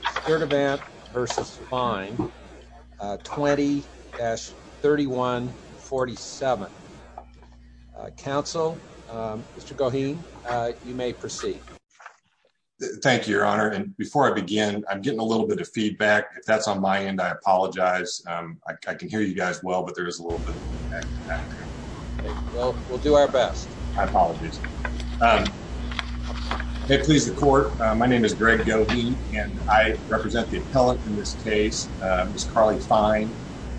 20-3147. Council, Mr. Goheen, you may proceed. Thank you, Your Honor, and before I begin, I'm getting a little bit of feedback. If that's on my end, I apologize. I can hear you guys well, but there is a little bit of feedback. We'll do our best. I apologize. May it please the court. My name is Greg Goheen, and I represent the appellate in this case, Ms. Carly Fine.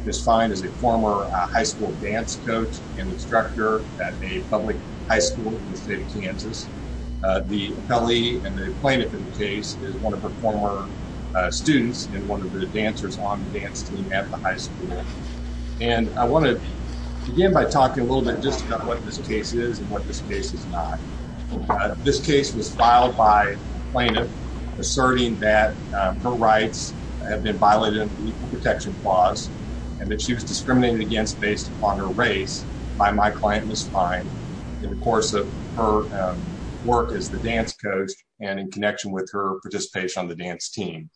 Ms. Fine is a former high school dance coach and instructor at a public high school in the state of Kansas. The appellee and the plaintiff in the case is one of her former students and one of the dancers on the dance team at the high school, and I want to begin by talking a little bit just about what this case is and what this case is not. This case was filed by a plaintiff asserting that her rights have been violated under the Equal Protection Clause and that she was discriminated against based upon her race by my client, Ms. Fine, in the course of her work as the dance coach and in connection with her participation on the dance team.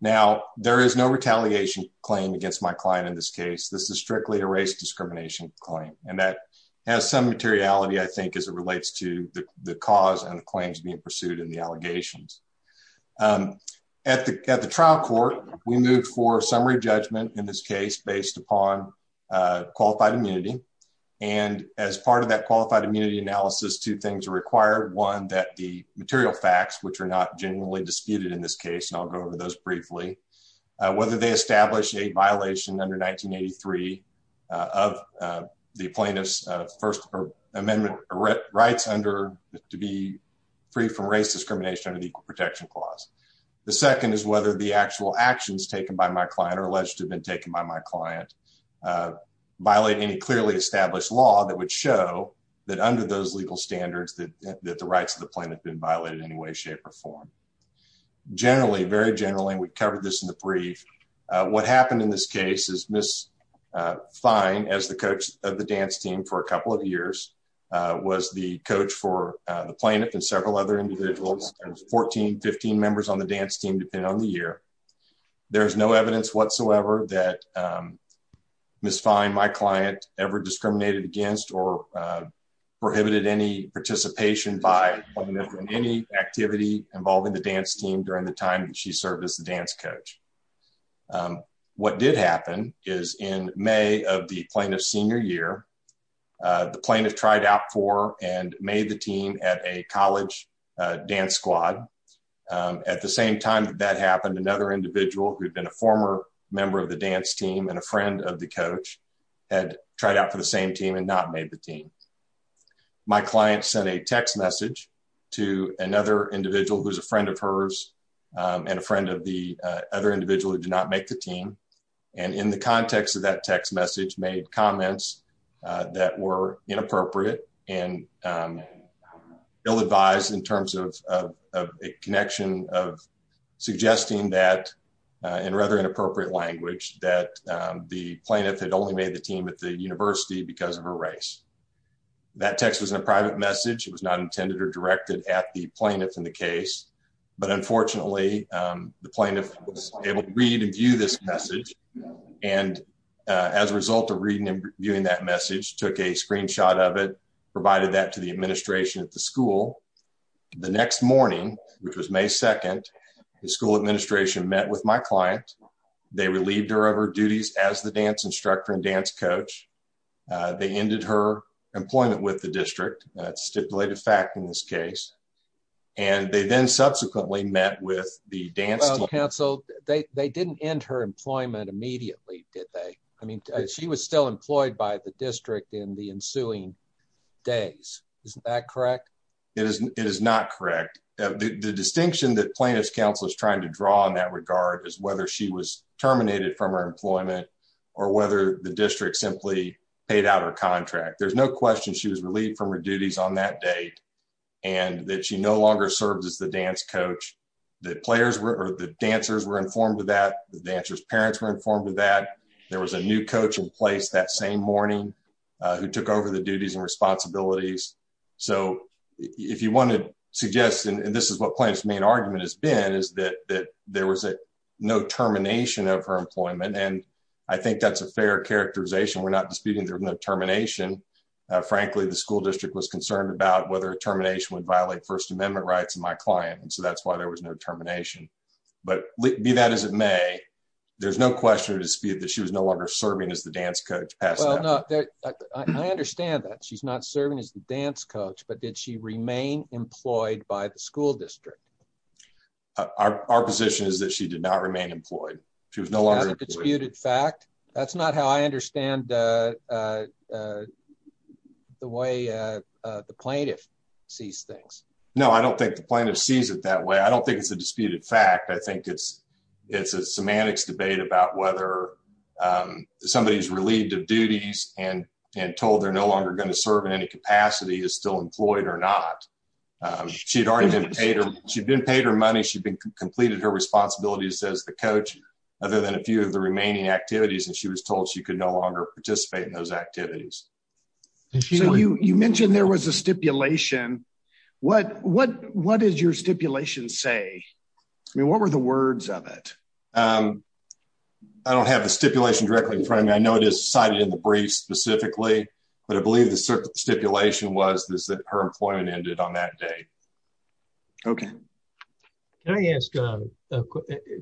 Now, there is no retaliation claim against my client in this case. This is strictly a race discrimination claim, and that has some materiality, I think, as it relates to the cause and the claims being pursued in the allegations. At the trial court, we moved for summary judgment in this case based upon qualified immunity, and as part of that qualified immunity analysis, two things are required. One, that the material facts, which are not genuinely disputed in this case, and I'll go over those violations under 1983 of the plaintiff's First Amendment rights to be free from race discrimination under the Equal Protection Clause. The second is whether the actual actions taken by my client or alleged to have been taken by my client violate any clearly established law that would show that under those legal standards that the rights of the plaintiff have been violated in any way, form. Generally, very generally, and we covered this in the brief, what happened in this case is Ms. Fine, as the coach of the dance team for a couple of years, was the coach for the plaintiff and several other individuals. There was 14, 15 members on the dance team depending on the year. There is no evidence whatsoever that Ms. Fine, my client, ever discriminated against or prohibited any participation by any activity involving the dance team during the time she served as the dance coach. What did happen is in May of the plaintiff's senior year, the plaintiff tried out for and made the team at a college dance squad. At the same time that happened, another individual who had been a former member of the dance team and a friend of the coach had tried out for the same team and not made the team. My client sent a text message to another individual who's a friend of hers and a friend of the other individual who did not make the team, and in the context of that text message made comments that were inappropriate and ill-advised in terms of a connection of suggesting that in rather inappropriate language that the team at the university because of a race. That text was in a private message. It was not intended or directed at the plaintiff in the case, but unfortunately, the plaintiff was able to read and view this message, and as a result of reading and viewing that message, took a screenshot of it, provided that to the administration at the school. The next morning, which was May 2nd, the school administration met with my client. They relieved her of her duties as the dance instructor and dance coach. They ended her employment with the district. That's stipulated fact in this case, and they then subsequently met with the dance team. Well, counsel, they didn't end her employment immediately, did they? I mean, she was still employed by the district in the ensuing days. Isn't that correct? It is not correct. The distinction that plaintiff's counsel is trying to draw in that regard is whether she was terminated from her employment or whether the district simply paid out her contract. There's no question she was relieved from her duties on that date and that she no longer served as the dance coach. The dancers were informed of that. The dancer's parents were informed of that. There was a new coach in place that same morning who took over the duties and responsibilities. So, if you want to suggest, and this is what plaintiff's main point is, that there was no termination of her employment, and I think that's a fair characterization. We're not disputing there was no termination. Frankly, the school district was concerned about whether a termination would violate First Amendment rights of my client, and so that's why there was no termination. But be that as it may, there's no question or dispute that she was no longer serving as the dance coach. I understand that she's not serving as the dance coach, but did she remain employed by the school district? Our position is that she did not remain employed. She was no longer a disputed fact. That's not how I understand the way the plaintiff sees things. No, I don't think the plaintiff sees it that way. I don't think it's a disputed fact. I think it's a semantics debate about whether somebody's relieved of duties and told they're no longer going to serve in any capacity, is still employed or not. She'd already been paid her money. She'd been completed her responsibilities as the coach, other than a few of the remaining activities, and she was told she could no longer participate in those activities. So, you mentioned there was a stipulation. What did your stipulation say? I mean, what were the words of it? I don't have the stipulation directly in front of me. I know it is cited in the brief specifically, but I believe the stipulation was that her employment ended on that day. Okay. Can I ask a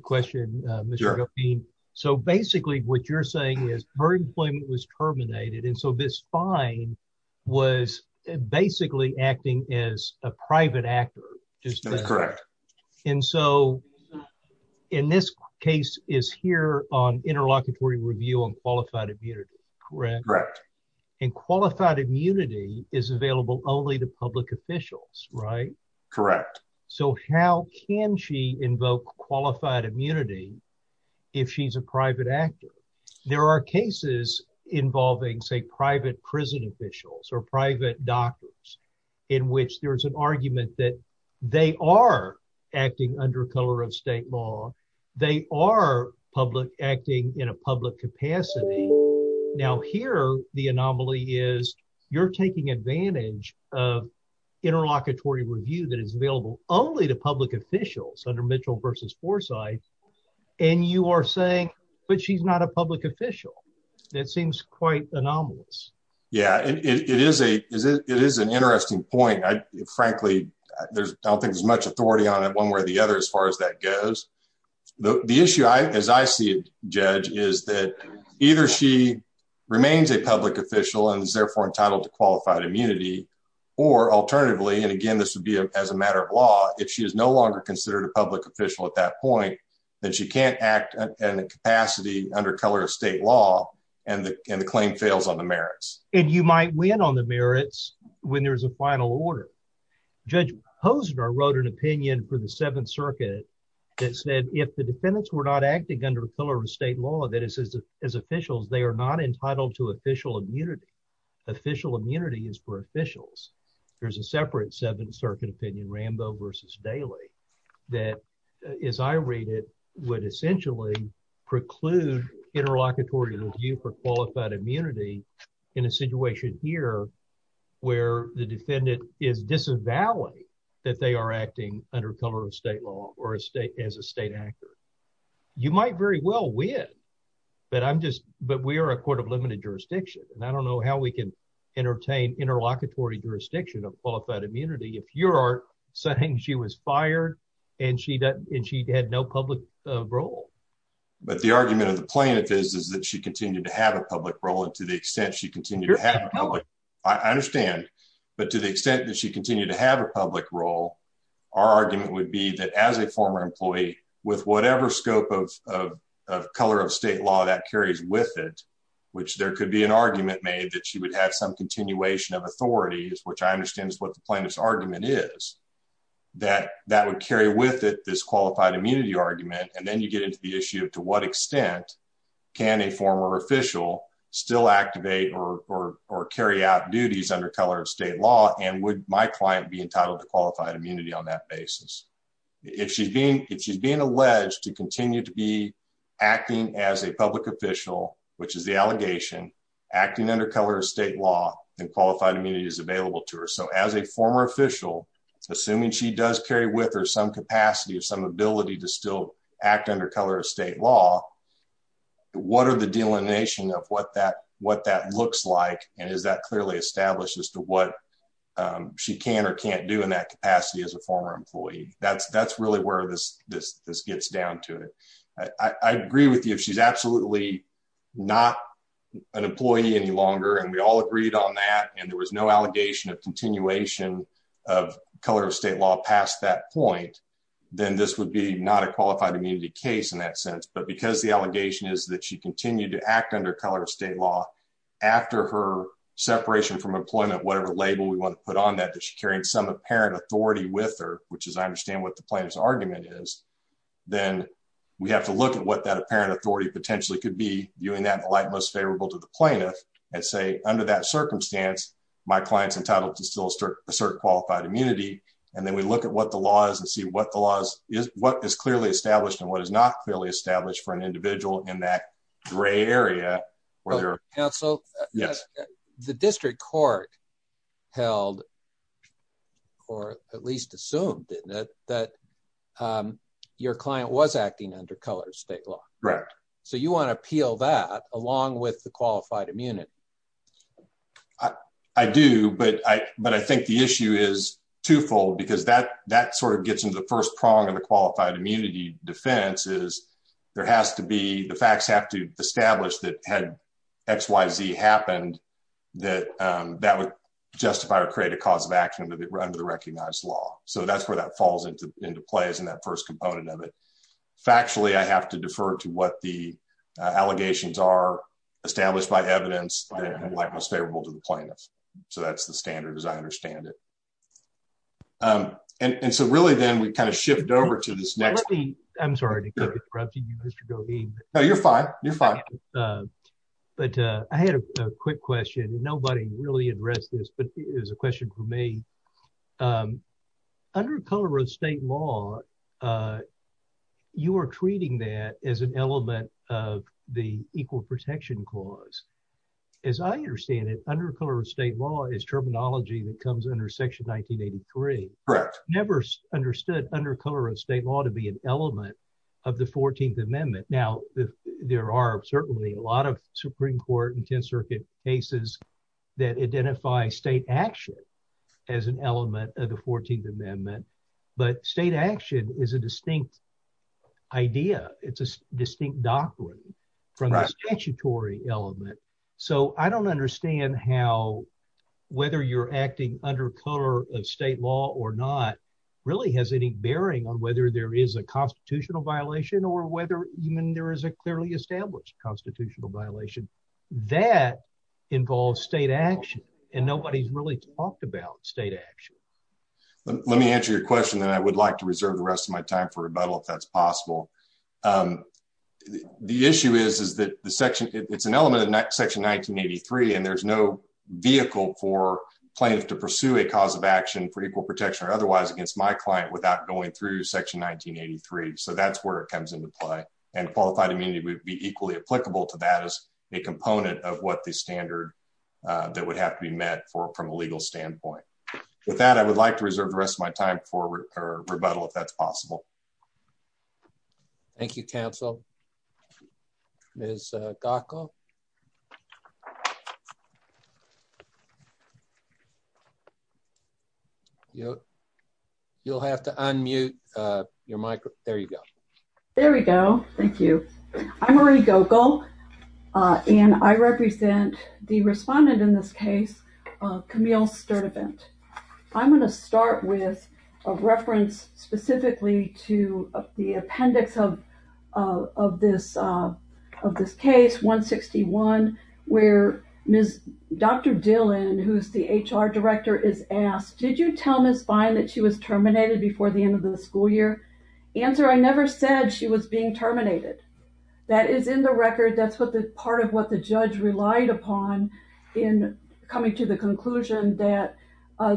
question? So, basically, what you're saying is her employment was terminated, and so this fine was basically acting as a private actor. That's correct. And so, in this case is here on interlocutory review on qualified immunity, correct? And qualified immunity is available only to public officials, right? Correct. So, how can she invoke qualified immunity if she's a private actor? There are cases involving, say, private prison officials or doctors in which there's an argument that they are acting under color of state law. They are acting in a public capacity. Now, here, the anomaly is you're taking advantage of interlocutory review that is available only to public officials under Mitchell versus Forsyth, and you are saying, but she's not a public official. That seems quite anomalous. Yeah, it is an interesting point. Frankly, I don't think there's much authority on it one way or the other as far as that goes. The issue, as I see it, Judge, is that either she remains a public official and is therefore entitled to qualified immunity, or alternatively, and again, this would be as a matter of law, if she is no longer considered a public official at that point, then she can't act in a capacity under color of state law, and the claim fails on the merits. And you might win on the merits when there's a final order. Judge Hosner wrote an opinion for the Seventh Circuit that said if the defendants were not acting under color of state law, that is as officials, they are not entitled to official immunity. Official immunity is for officials. There's a separate Seventh Circuit opinion, Rambo versus Daley, that, as I read it, would essentially preclude interlocutory review for qualified immunity in a situation here where the defendant is disavowing that they are acting under color of state law or as a state actor. You might very well win, but we are a court of limited jurisdiction, and I don't know how we can interlocutory jurisdiction of qualified immunity if you are saying she was fired, and she had no public role. But the argument of the plaintiff is that she continued to have a public role, and to the extent she continued to have a public role, I understand, but to the extent that she continued to have a public role, our argument would be that as a former employee, with whatever scope of color of state law that carries with it, which there could be an argument made that she would have some continuation of authority, which I understand is what the plaintiff's argument is, that that would carry with it this qualified immunity argument, and then you get into the issue of to what extent can a former official still activate or carry out duties under color of state law, and would my client be entitled to qualified immunity on that basis? If she's being alleged to continue to be acting as a public official, which is the under color of state law, and qualified immunity is available to her, so as a former official, assuming she does carry with her some capacity or some ability to still act under color of state law, what are the delineation of what that looks like, and is that clearly established as to what she can or can't do in that capacity as a former employee? That's really where this gets down to it. I agree with you, if she's absolutely not an employee any longer, and we all agreed on that, and there was no allegation of continuation of color of state law past that point, then this would be not a qualified immunity case in that sense, but because the allegation is that she continued to act under color of state law after her separation from employment, whatever label we want to put on that, that she's carrying some apparent authority with her, which is I understand what the plaintiff's argument is, then we have to look at what that apparent authority potentially could be, viewing that in the light most favorable to the plaintiff, and say under that circumstance, my client's entitled to still assert qualified immunity, and then we look at what the law is, and see what is clearly established and what is not clearly established for an individual in that gray area. So the district court held, or at least assumed, didn't it, that your client was acting under color of state law? Correct. So you want to appeal that along with the qualified immunity? I do, but I think the issue is twofold, because that sort of gets into the first prong of the qualified immunity defense, is there has to be, the facts have to establish that had X, Y, Z happened, that that would justify or create a cause of action under the recognized law. So that's where that falls into into play as in that first component of it. Factually, I have to defer to what the allegations are established by evidence like most favorable to the plaintiff. So that's the standard as I understand it. And so really, then we kind of shift over to this next. I'm sorry to corrupt you, Mr. Goheen. No, you're fine. You're fine. But I had a quick question. Nobody really addressed this, but it was a question for me. Under color of state law, you are treating that as an element of the equal protection clause. As I understand it, under color of state law is terminology that never understood under color of state law to be an element of the 14th Amendment. Now, there are certainly a lot of Supreme Court and 10th Circuit cases that identify state action as an element of the 14th Amendment. But state action is a distinct idea. It's a distinct doctrine from a statutory element. So I don't understand how, whether you're acting under color of state law or not, really has any bearing on whether there is a constitutional violation or whether even there is a clearly established constitutional violation. That involves state action, and nobody's really talked about state action. Let me answer your question, then I would like to reserve the rest of my time for rebuttal if that's possible. The issue is, is that the section, it's an element section 1983, and there's no vehicle for plaintiffs to pursue a cause of action for equal protection or otherwise against my client without going through section 1983. So that's where it comes into play. And qualified immunity would be equally applicable to that as a component of what the standard that would have to be met for from a legal standpoint. With that, I would like to move on. You'll have to unmute your microphone. There you go. There we go. Thank you. I'm Marie Gogol, and I represent the respondent in this case, Camille Sturdivant. I'm going to start with a reference specifically to the appendix of this case, 161, where Dr. Dillon, who's the HR director, is asked, did you tell Ms. Vine that she was terminated before the end of the school year? Answer, I never said she was being terminated. That is in the record. That's what the part of the judge relied upon in coming to the conclusion that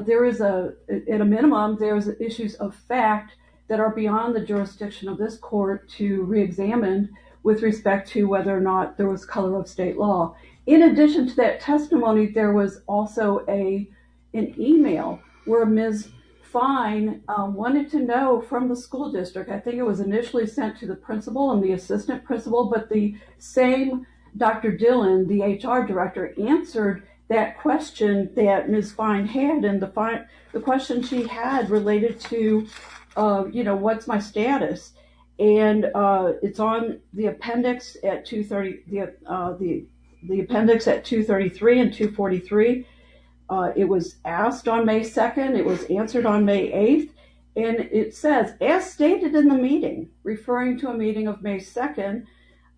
there is a, at a minimum, there's issues of fact that are beyond the jurisdiction of this court to reexamine with respect to whether or not there was color of state law. In addition to that testimony, there was also an email where Ms. Vine wanted to know from the school district, I think it was initially sent to the principal and the the HR director answered that question that Ms. Vine had and the question she had related to, you know, what's my status? And it's on the appendix at 230, the appendix at 233 and 243. It was asked on May 2nd. It was answered on May 8th. And it says, as stated in the meeting, referring to a meeting of May 2nd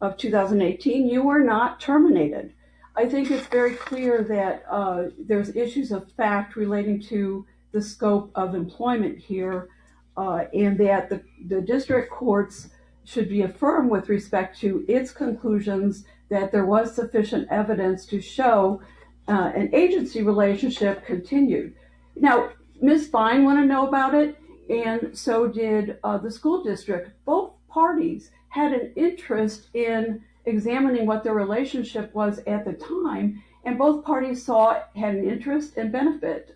of 2018, you were not terminated. I think it's very clear that there's issues of fact relating to the scope of employment here and that the district courts should be affirmed with respect to its conclusions that there was sufficient evidence to show an agency relationship continued. Now, Ms. Vine want to know about it and so did the school district, both parties had an interest in examining what the relationship was at the time and both parties saw had an interest and benefit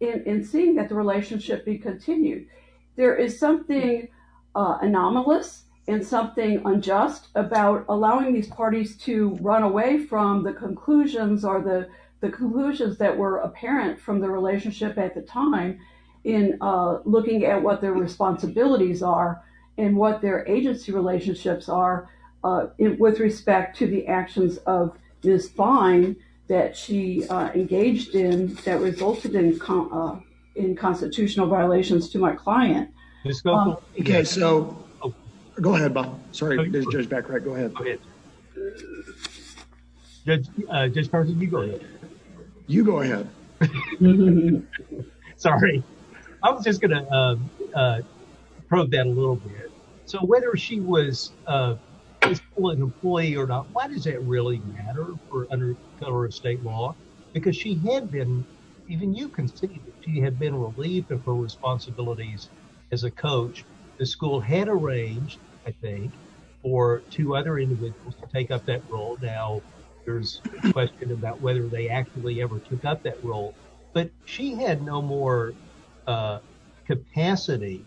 in seeing that the relationship be continued. There is something anomalous and something unjust about allowing these parties to run away from the conclusions or the conclusions that were apparent from the relationship at the time in looking at what their responsibilities are and what their agency relationships are with respect to the actions of Ms. Vine that she engaged in that resulted in constitutional violations to my client. Okay, so go ahead, Bob. Sorry, there's Judge Baccarat. Go ahead. Judge Parsons, you go ahead. You go ahead. Sorry, I was just going to probe that a little bit. So, whether she was an employee or not, why does it really matter for under federal or state law? Because she had been, even you can see that she had been relieved of her responsibilities as a coach. The school had arranged, I think, for two other individuals to take up that role. Now, there's a question about whether they actually ever took up that role, but she had no more capacity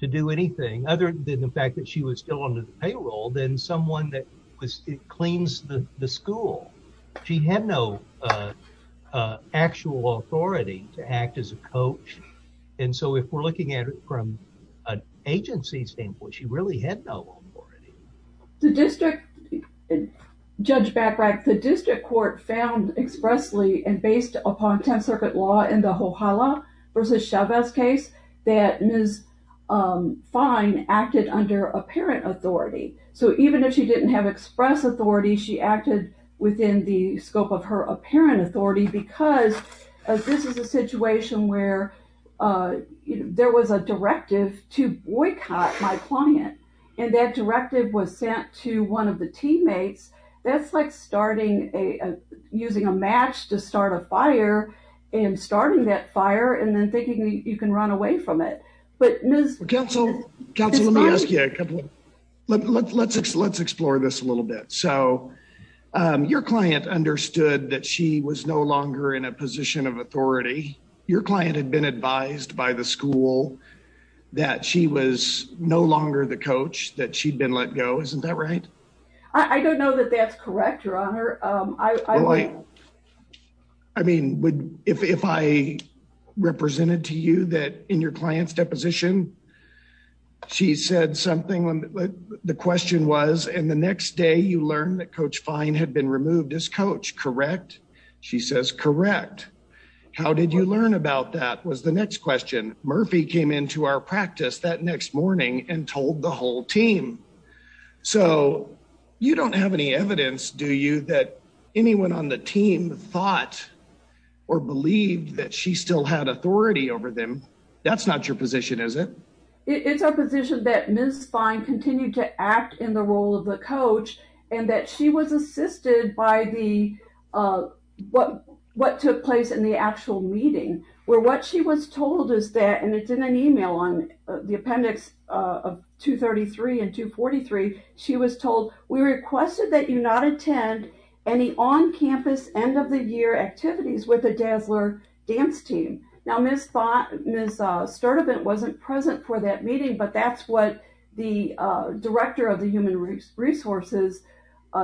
to do anything other than the fact that she was still under the payroll than someone that cleans the school. She had no actual authority to act as a coach. And so, if we're looking at it from an agency standpoint, she really had no authority. Judge Baccarat, the district court found expressly and based upon 10th Circuit law in the Hohala versus Chavez case that Ms. Vine acted under apparent authority. So, even if she didn't have express authority, she acted within the scope of her apparent authority because this is a situation where there was a directive to boycott my client. And that directive was sent to one of the teammates. That's like using a match to start a fire and starting that fire and then thinking you can run away from it. But Ms. Well, counsel, counsel, let me ask you a couple. Let's explore this a little bit. So, your client understood that she was no longer in a position of authority. Your client had been advised by the school that she was no longer the coach that she'd been let go. Isn't that right? I don't know that that's correct, your honor. I mean, if I represented to you that in your client's deposition, she said something. The question was, and the next day you learned that Coach Fine had been removed as coach, correct? She says, correct. How did you learn about that was the next question. Murphy came into our practice that next morning and told the whole team. So, you don't have any evidence, do you, that anyone on the team thought or believed that she still had authority over them? That's not your position, is it? It's our position that Ms. Fine continued to act in the role of the coach and that she was assisted by what took place in the actual meeting where what she was told is that, and it's in an email on the appendix of 233 and 243, she was told, we requested that you not attend any on-campus end-of-the-year activities with the Dazzler dance team. Now, Ms. Sturdivant wasn't present for that meeting, but that's what the Director of the Human Resources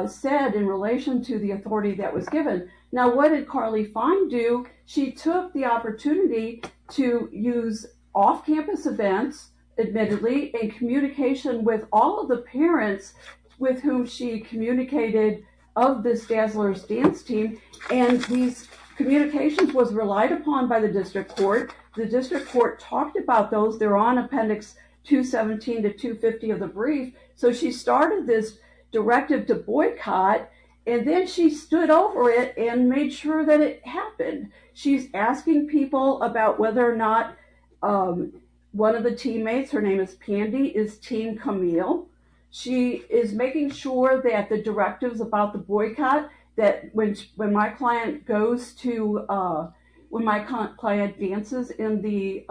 said in relation to the authority that was given. Now, what did Carly Fine do? She took the opportunity to use off-campus events, admittedly, in communication with all of the parents with whom she communicated of this Dazzler's dance team, and these communications was relied upon by the District Court. The District Court talked about those. They're on appendix 217 to 250 of the brief. So, she started this directive to boycott, and then she stood over it and made sure that it happened. She's asking people about whether or not one of the teammates, her name is Pandy, is Team Camille. She is making sure that the directives about the boycott, that when my client goes to, when my client dances in the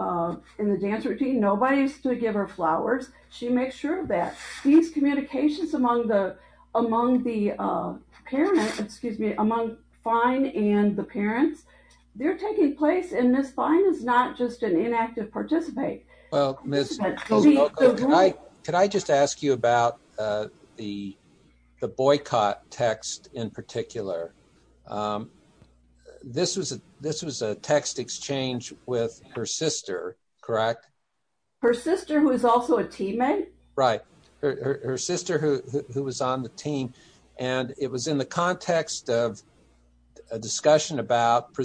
dance routine, nobody's to give her flowers. She makes sure that these communications among the parents, excuse me, among Fine and the parents, they're taking place, and Ms. Fine is not just an inactive participant. Well, Ms. O'Connell, could I just ask you about the boycott text in particular? This was a text exchange with her sister, correct? Her sister, who is also a teammate? Right. Her sister, who was on the team, and it was in the context of a discussion about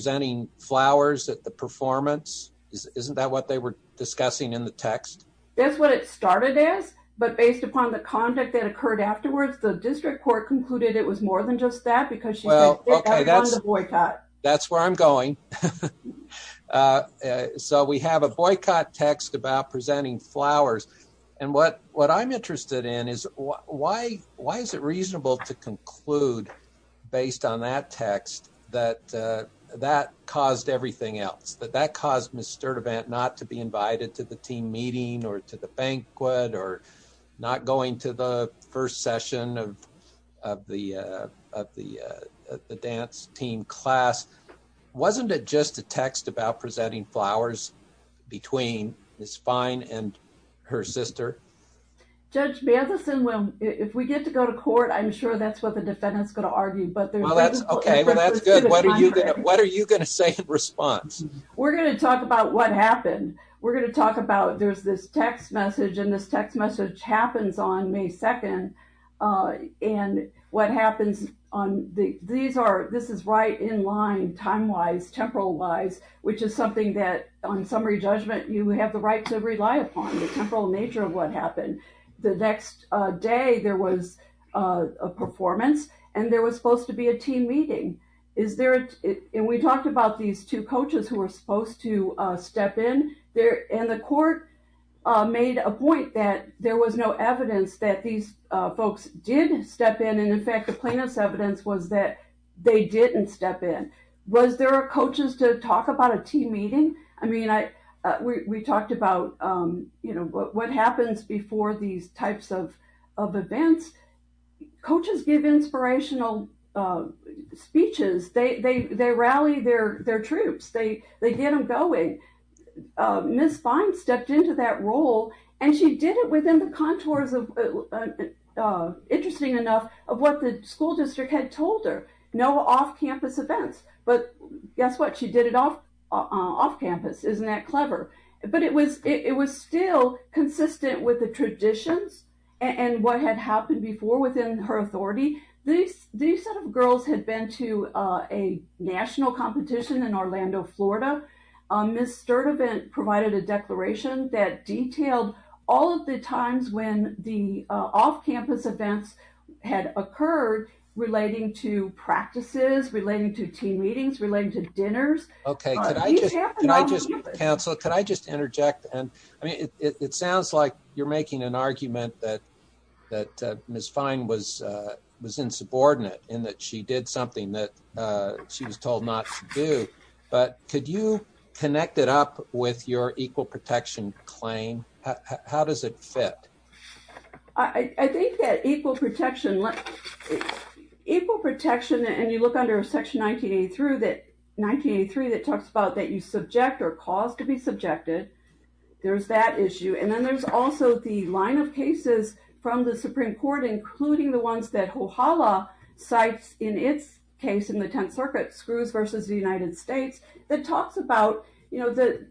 flowers at the performance. Isn't that what they were discussing in the text? That's what it started as, but based upon the conduct that occurred afterwards, the District Court concluded it was more than just that, because she was on the boycott. That's where I'm going. So, we have a boycott text about presenting flowers, and what I'm interested in is, why is it reasonable to conclude based on that text that that caused everything else, that that caused Ms. Sturdivant not to be invited to the team meeting, or to the banquet, or not going to the first session of the dance team class? Wasn't it just a text about presenting flowers between Ms. Fine and her sister? Judge Matheson, if we get to go to court, I'm sure that's what the defendant's going to argue, Okay, well, that's good. What are you going to say in response? We're going to talk about what happened. We're going to talk about, there's this text message, and this text message happens on May 2nd. This is right in line, time-wise, temporal-wise, which is something that, on summary judgment, you have the right to rely upon, the temporal nature of what happened. The next day, there was a performance, and there was supposed to be a team meeting. Is there, and we talked about these two coaches who were supposed to step in there, and the court made a point that there was no evidence that these folks did step in, and in fact, the plaintiff's evidence was that they didn't step in. Was there coaches to talk about a team meeting? I mean, we talked about, you know, what happens before these types of events. Coaches give inspirational speeches. They rally their troops. They get them going. Ms. Fine stepped into that role, and she did it within the contours of, interesting enough, of what the school district had told her. No off-campus events, but guess what? She did it off-campus. Isn't that clever? But it was still consistent with the traditions and what had happened before within her authority. These sort of girls had been to a national competition in Orlando, Florida. Ms. Sturdivant provided a declaration that detailed all of the times when the off-campus events had occurred relating to practices, relating to team Okay, could I just interject? Council, could I just interject? I mean, it sounds like you're making an argument that Ms. Fine was insubordinate in that she did something that she was told not to do, but could you connect it up with your equal protection claim? How does it fit? I think that equal protection, and you look under Section 1983, that talks about that you subject or cause to be subjected. There's that issue, and then there's also the line of cases from the Supreme Court, including the ones that HOHALA cites in its case in the Tenth Circuit, Screws versus the United States, that talks about, you know, that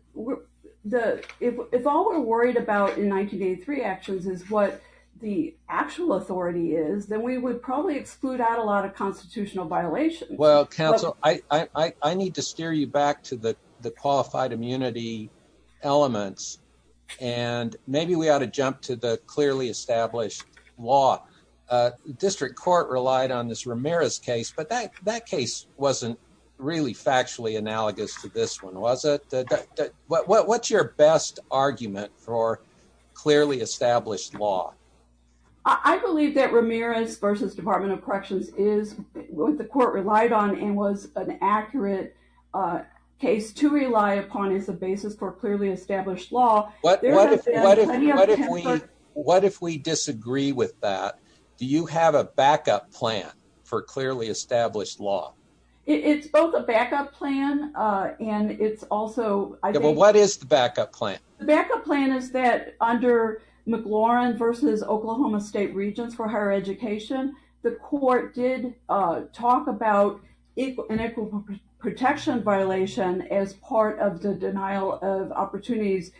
if all we're worried about in 1983 actions is what the actual authority is, then we would probably exclude a lot of constitutional violations. Well, Council, I need to steer you back to the qualified immunity elements, and maybe we ought to jump to the clearly established law. District Court relied on this Ramirez case, but that case wasn't really factually analogous to this one, was it? What's your best argument for clearly established law? I believe that Ramirez versus Department of Corrections is what the court relied on and was an accurate case to rely upon as a basis for clearly established law. What if we disagree with that? Do you have a backup plan for clearly established law? It's both a backup plan, and it's also... What is the backup plan? The backup plan is that under McLaurin versus Oklahoma State Regents for Higher Education, the court did talk about an equal protection violation as part of the denial of opportunities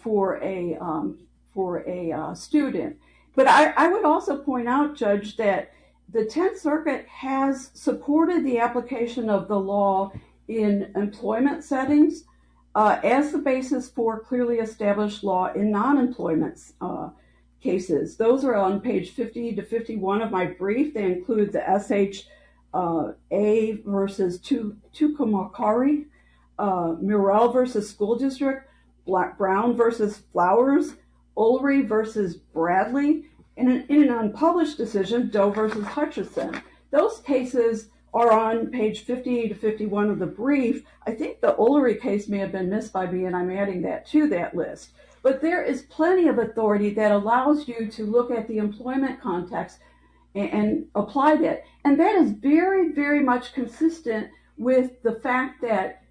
for a student. But I would also point out, Judge, that the Tenth Circuit has supported the application of the law in employment settings as the basis for clearly established law in non-employment cases. Those are on page 50 to 51 of my brief. They include the SHA versus Tucumcari, Murrell versus School District, Black-Brown versus Flowers, Ulrey versus Bradley, and in an unpublished decision, Doe versus Hutchison. Those cases are on page 50 to 51 of the brief. I think the Ulrey case may have been missed by me, and I'm adding that to that list. But there is plenty of authority that allows you to look at the employment context and apply that. And that is very, very much consistent with the fact that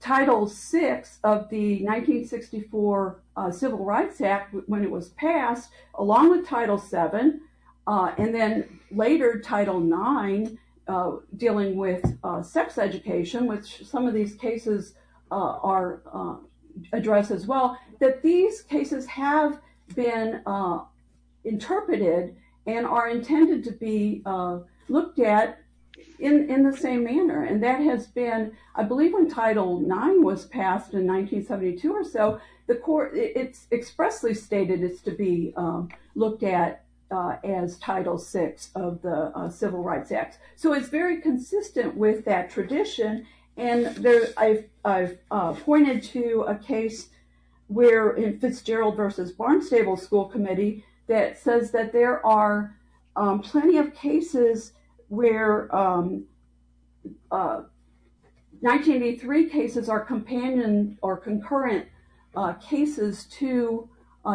Title VI of the 1964 Civil Rights Act, when it was passed, along with Title VII, and then later Title IX dealing with sex education, which some of these cases address as well, that these cases have been interpreted and are intended to be looked at in the same manner. And that has been, I believe when Title IX was passed in 1972 or so, the court, it's expressly stated it's to be looked at as Title VI of the Civil Rights Act. So it's very consistent with that tradition. And I've pointed to a case where, in Fitzgerald versus Barnstable School Committee, that says that there are plenty of cases where 1983 cases are companion or concurrent cases to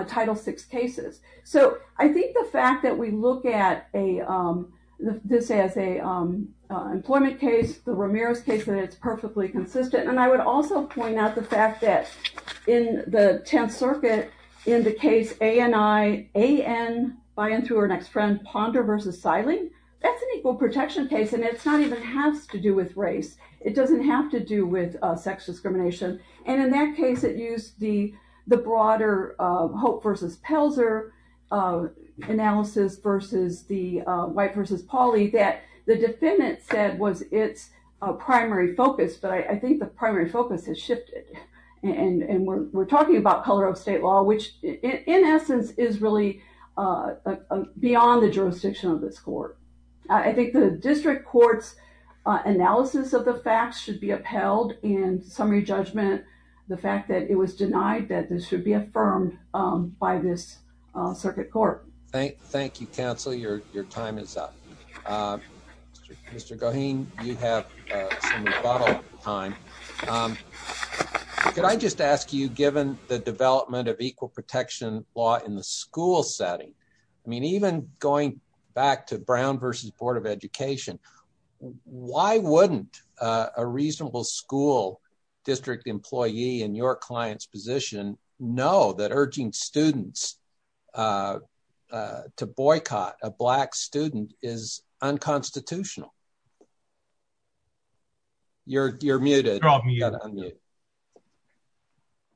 Title VI cases. So I think the fact that we look at this as an employment case, the Ramirez case, that it's perfectly consistent. And I would also point out the fact that in the Tenth Circuit, in the case A.N. by and through her next friend, Ponder versus Seiling, that's an equal protection case, and it's not even has to do with race. It doesn't have to do with sex discrimination. And in that case, it used the broader Hope versus Pelzer analysis versus the White versus Pauli that the defendant said was its primary focus. But I think the primary focus has shifted. And we're talking about color of state law, which in essence is really beyond the jurisdiction of this court. I think the district court's analysis of the facts should be upheld in summary judgment. The fact that it was denied that this should be affirmed by this circuit court. Thank you, counsel. Your time is up. Mr. Goheen, you have some rebuttal time. Could I just ask you, given the development of equal protection law in the school setting, I mean, even going back to Brown versus Board of Education, why wouldn't a reasonable school district employee in your client's position know that urging students to boycott a black student is unconstitutional? You're muted.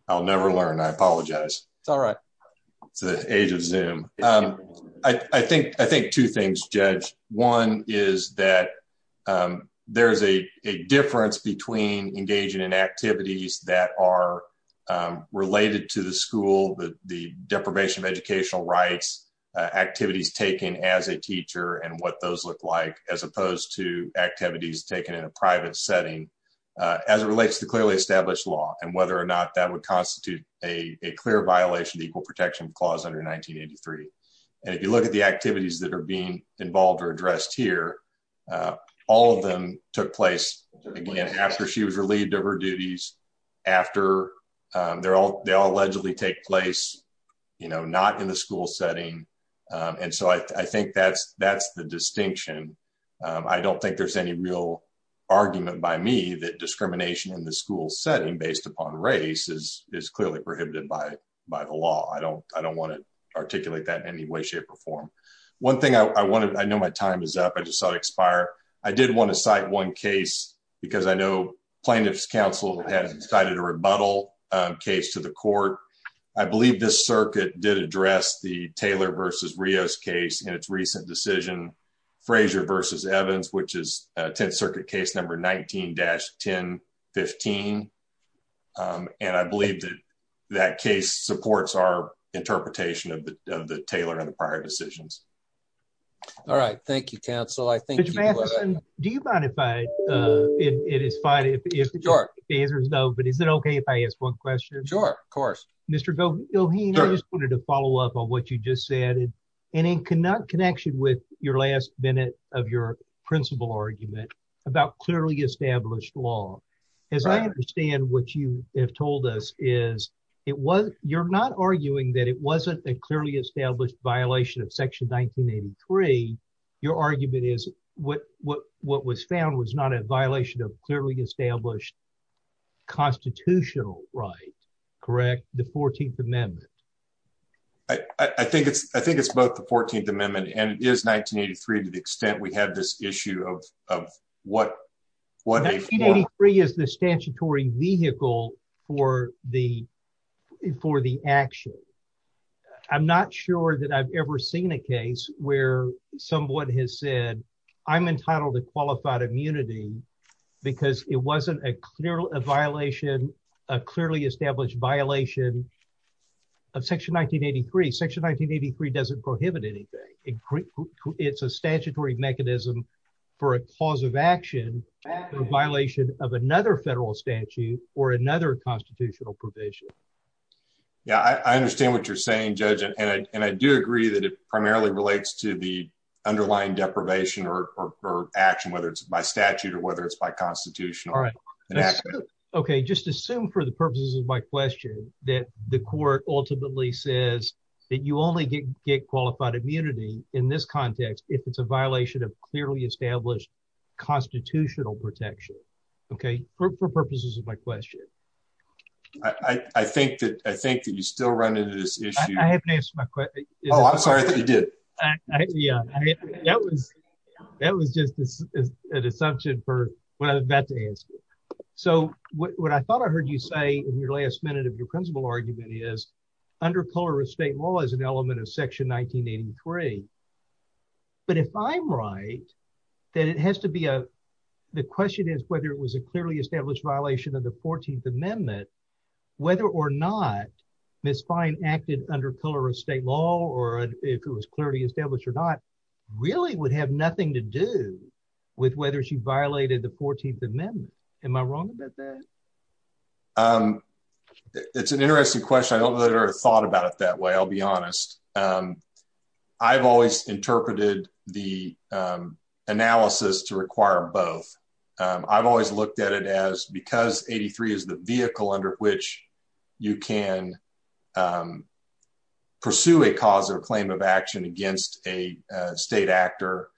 I'll never learn. I apologize. It's all right. It's the age of Zoom. I think two things, Judge. One is that there's a difference between engaging in activities that are related to the school, the deprivation of educational rights, activities taken as a teacher and what those look like, as opposed to activities taken in a private setting, as it relates to clearly established law and whether or not that would constitute a clear violation of equal protection clause under 1983. And if you look at the activities that are being involved or addressed here, all of them took place, again, after she was relieved of her duties, after they all allegedly take place, you know, not in the school setting. And so I think that's the distinction. I don't think there's any real argument by me that discrimination in the school setting based upon race is clearly prohibited by the law. I don't want to articulate that in any way, shape or form. One thing I want to, I know my time is up. I just saw it expire. I did want to cite one case because I know plaintiff's counsel has decided to rebuttal case to the court. I believe this circuit did address the Taylor versus Rios case in its recent decision, Frazier versus Evans, which is 10th Circuit case number 19-1015. And I believe that that case supports our interpretation of the Taylor and the prior decisions. All right. Thank you, counsel. I think do you mind if I, it is fine if the answer is no, but is it okay if I ask one question? Sure, of course. Mr. Goheen, I just wanted to follow up on what you just said. And in connection with your last minute of your principle argument about clearly established law, as I understand what you have told us is it was, you're not arguing that it wasn't a clearly established violation of section 1983. Your argument is what was found was not a violation of clearly established constitutional right, correct? The 14th amendment. I think it's both the 14th amendment and it is 1983 to the extent we have this issue of what- 1983 is the statutory vehicle for the, for the action. I'm not sure that I've ever seen a case where someone has said, I'm entitled to qualified immunity because it wasn't a clear violation, a clearly established violation of section 1983. Section 1983 doesn't prohibit anything. It's a statutory mechanism for a cause of action, a violation of another federal statute or another constitutional provision. Yeah, I understand what you're saying, Judge. And I do agree that it primarily relates to the underlying deprivation or action, whether it's by statute or whether it's by constitution. Okay. Just assume for the purposes of my question that the court ultimately says that you only get qualified immunity in this context, if it's a violation of clearly established constitutional protection. Okay. For purposes of my question. I think that, I think that you still run into this issue. I haven't asked my question. Oh, I'm sorry that you did. Yeah. That was, that was just an assumption for what I'm about to ask you. So what I thought I heard you say in last minute of your principle argument is under color of state law is an element of section 1983. But if I'm right, that it has to be a, the question is whether it was a clearly established violation of the 14th amendment, whether or not Ms. Fine acted under color of state law, or if it was clearly established or not, really would have nothing to do with whether she violated the 14th amendment. Am I wrong about that? It's an interesting question. I don't know that I thought about it that way. I'll be honest. I've always interpreted the analysis to require both. I've always looked at it as because 83 is the vehicle under which you can pursue a cause or claim of action against a state actor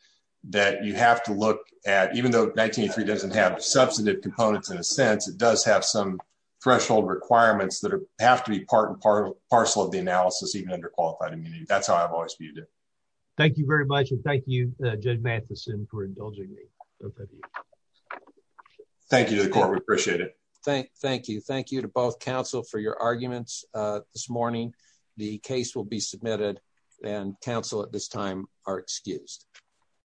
that you have to look at, even though 1983 doesn't have substantive components in a sense, it does have some threshold requirements that have to be part and parcel of the analysis, even under qualified immunity. That's how I've always viewed it. Thank you very much. And thank you, Judge Matheson for indulging me. Thank you to the court. We appreciate it. Thank you. Thank you to both counsel for your arguments. This morning, the case will be submitted and counsel at this time are excused.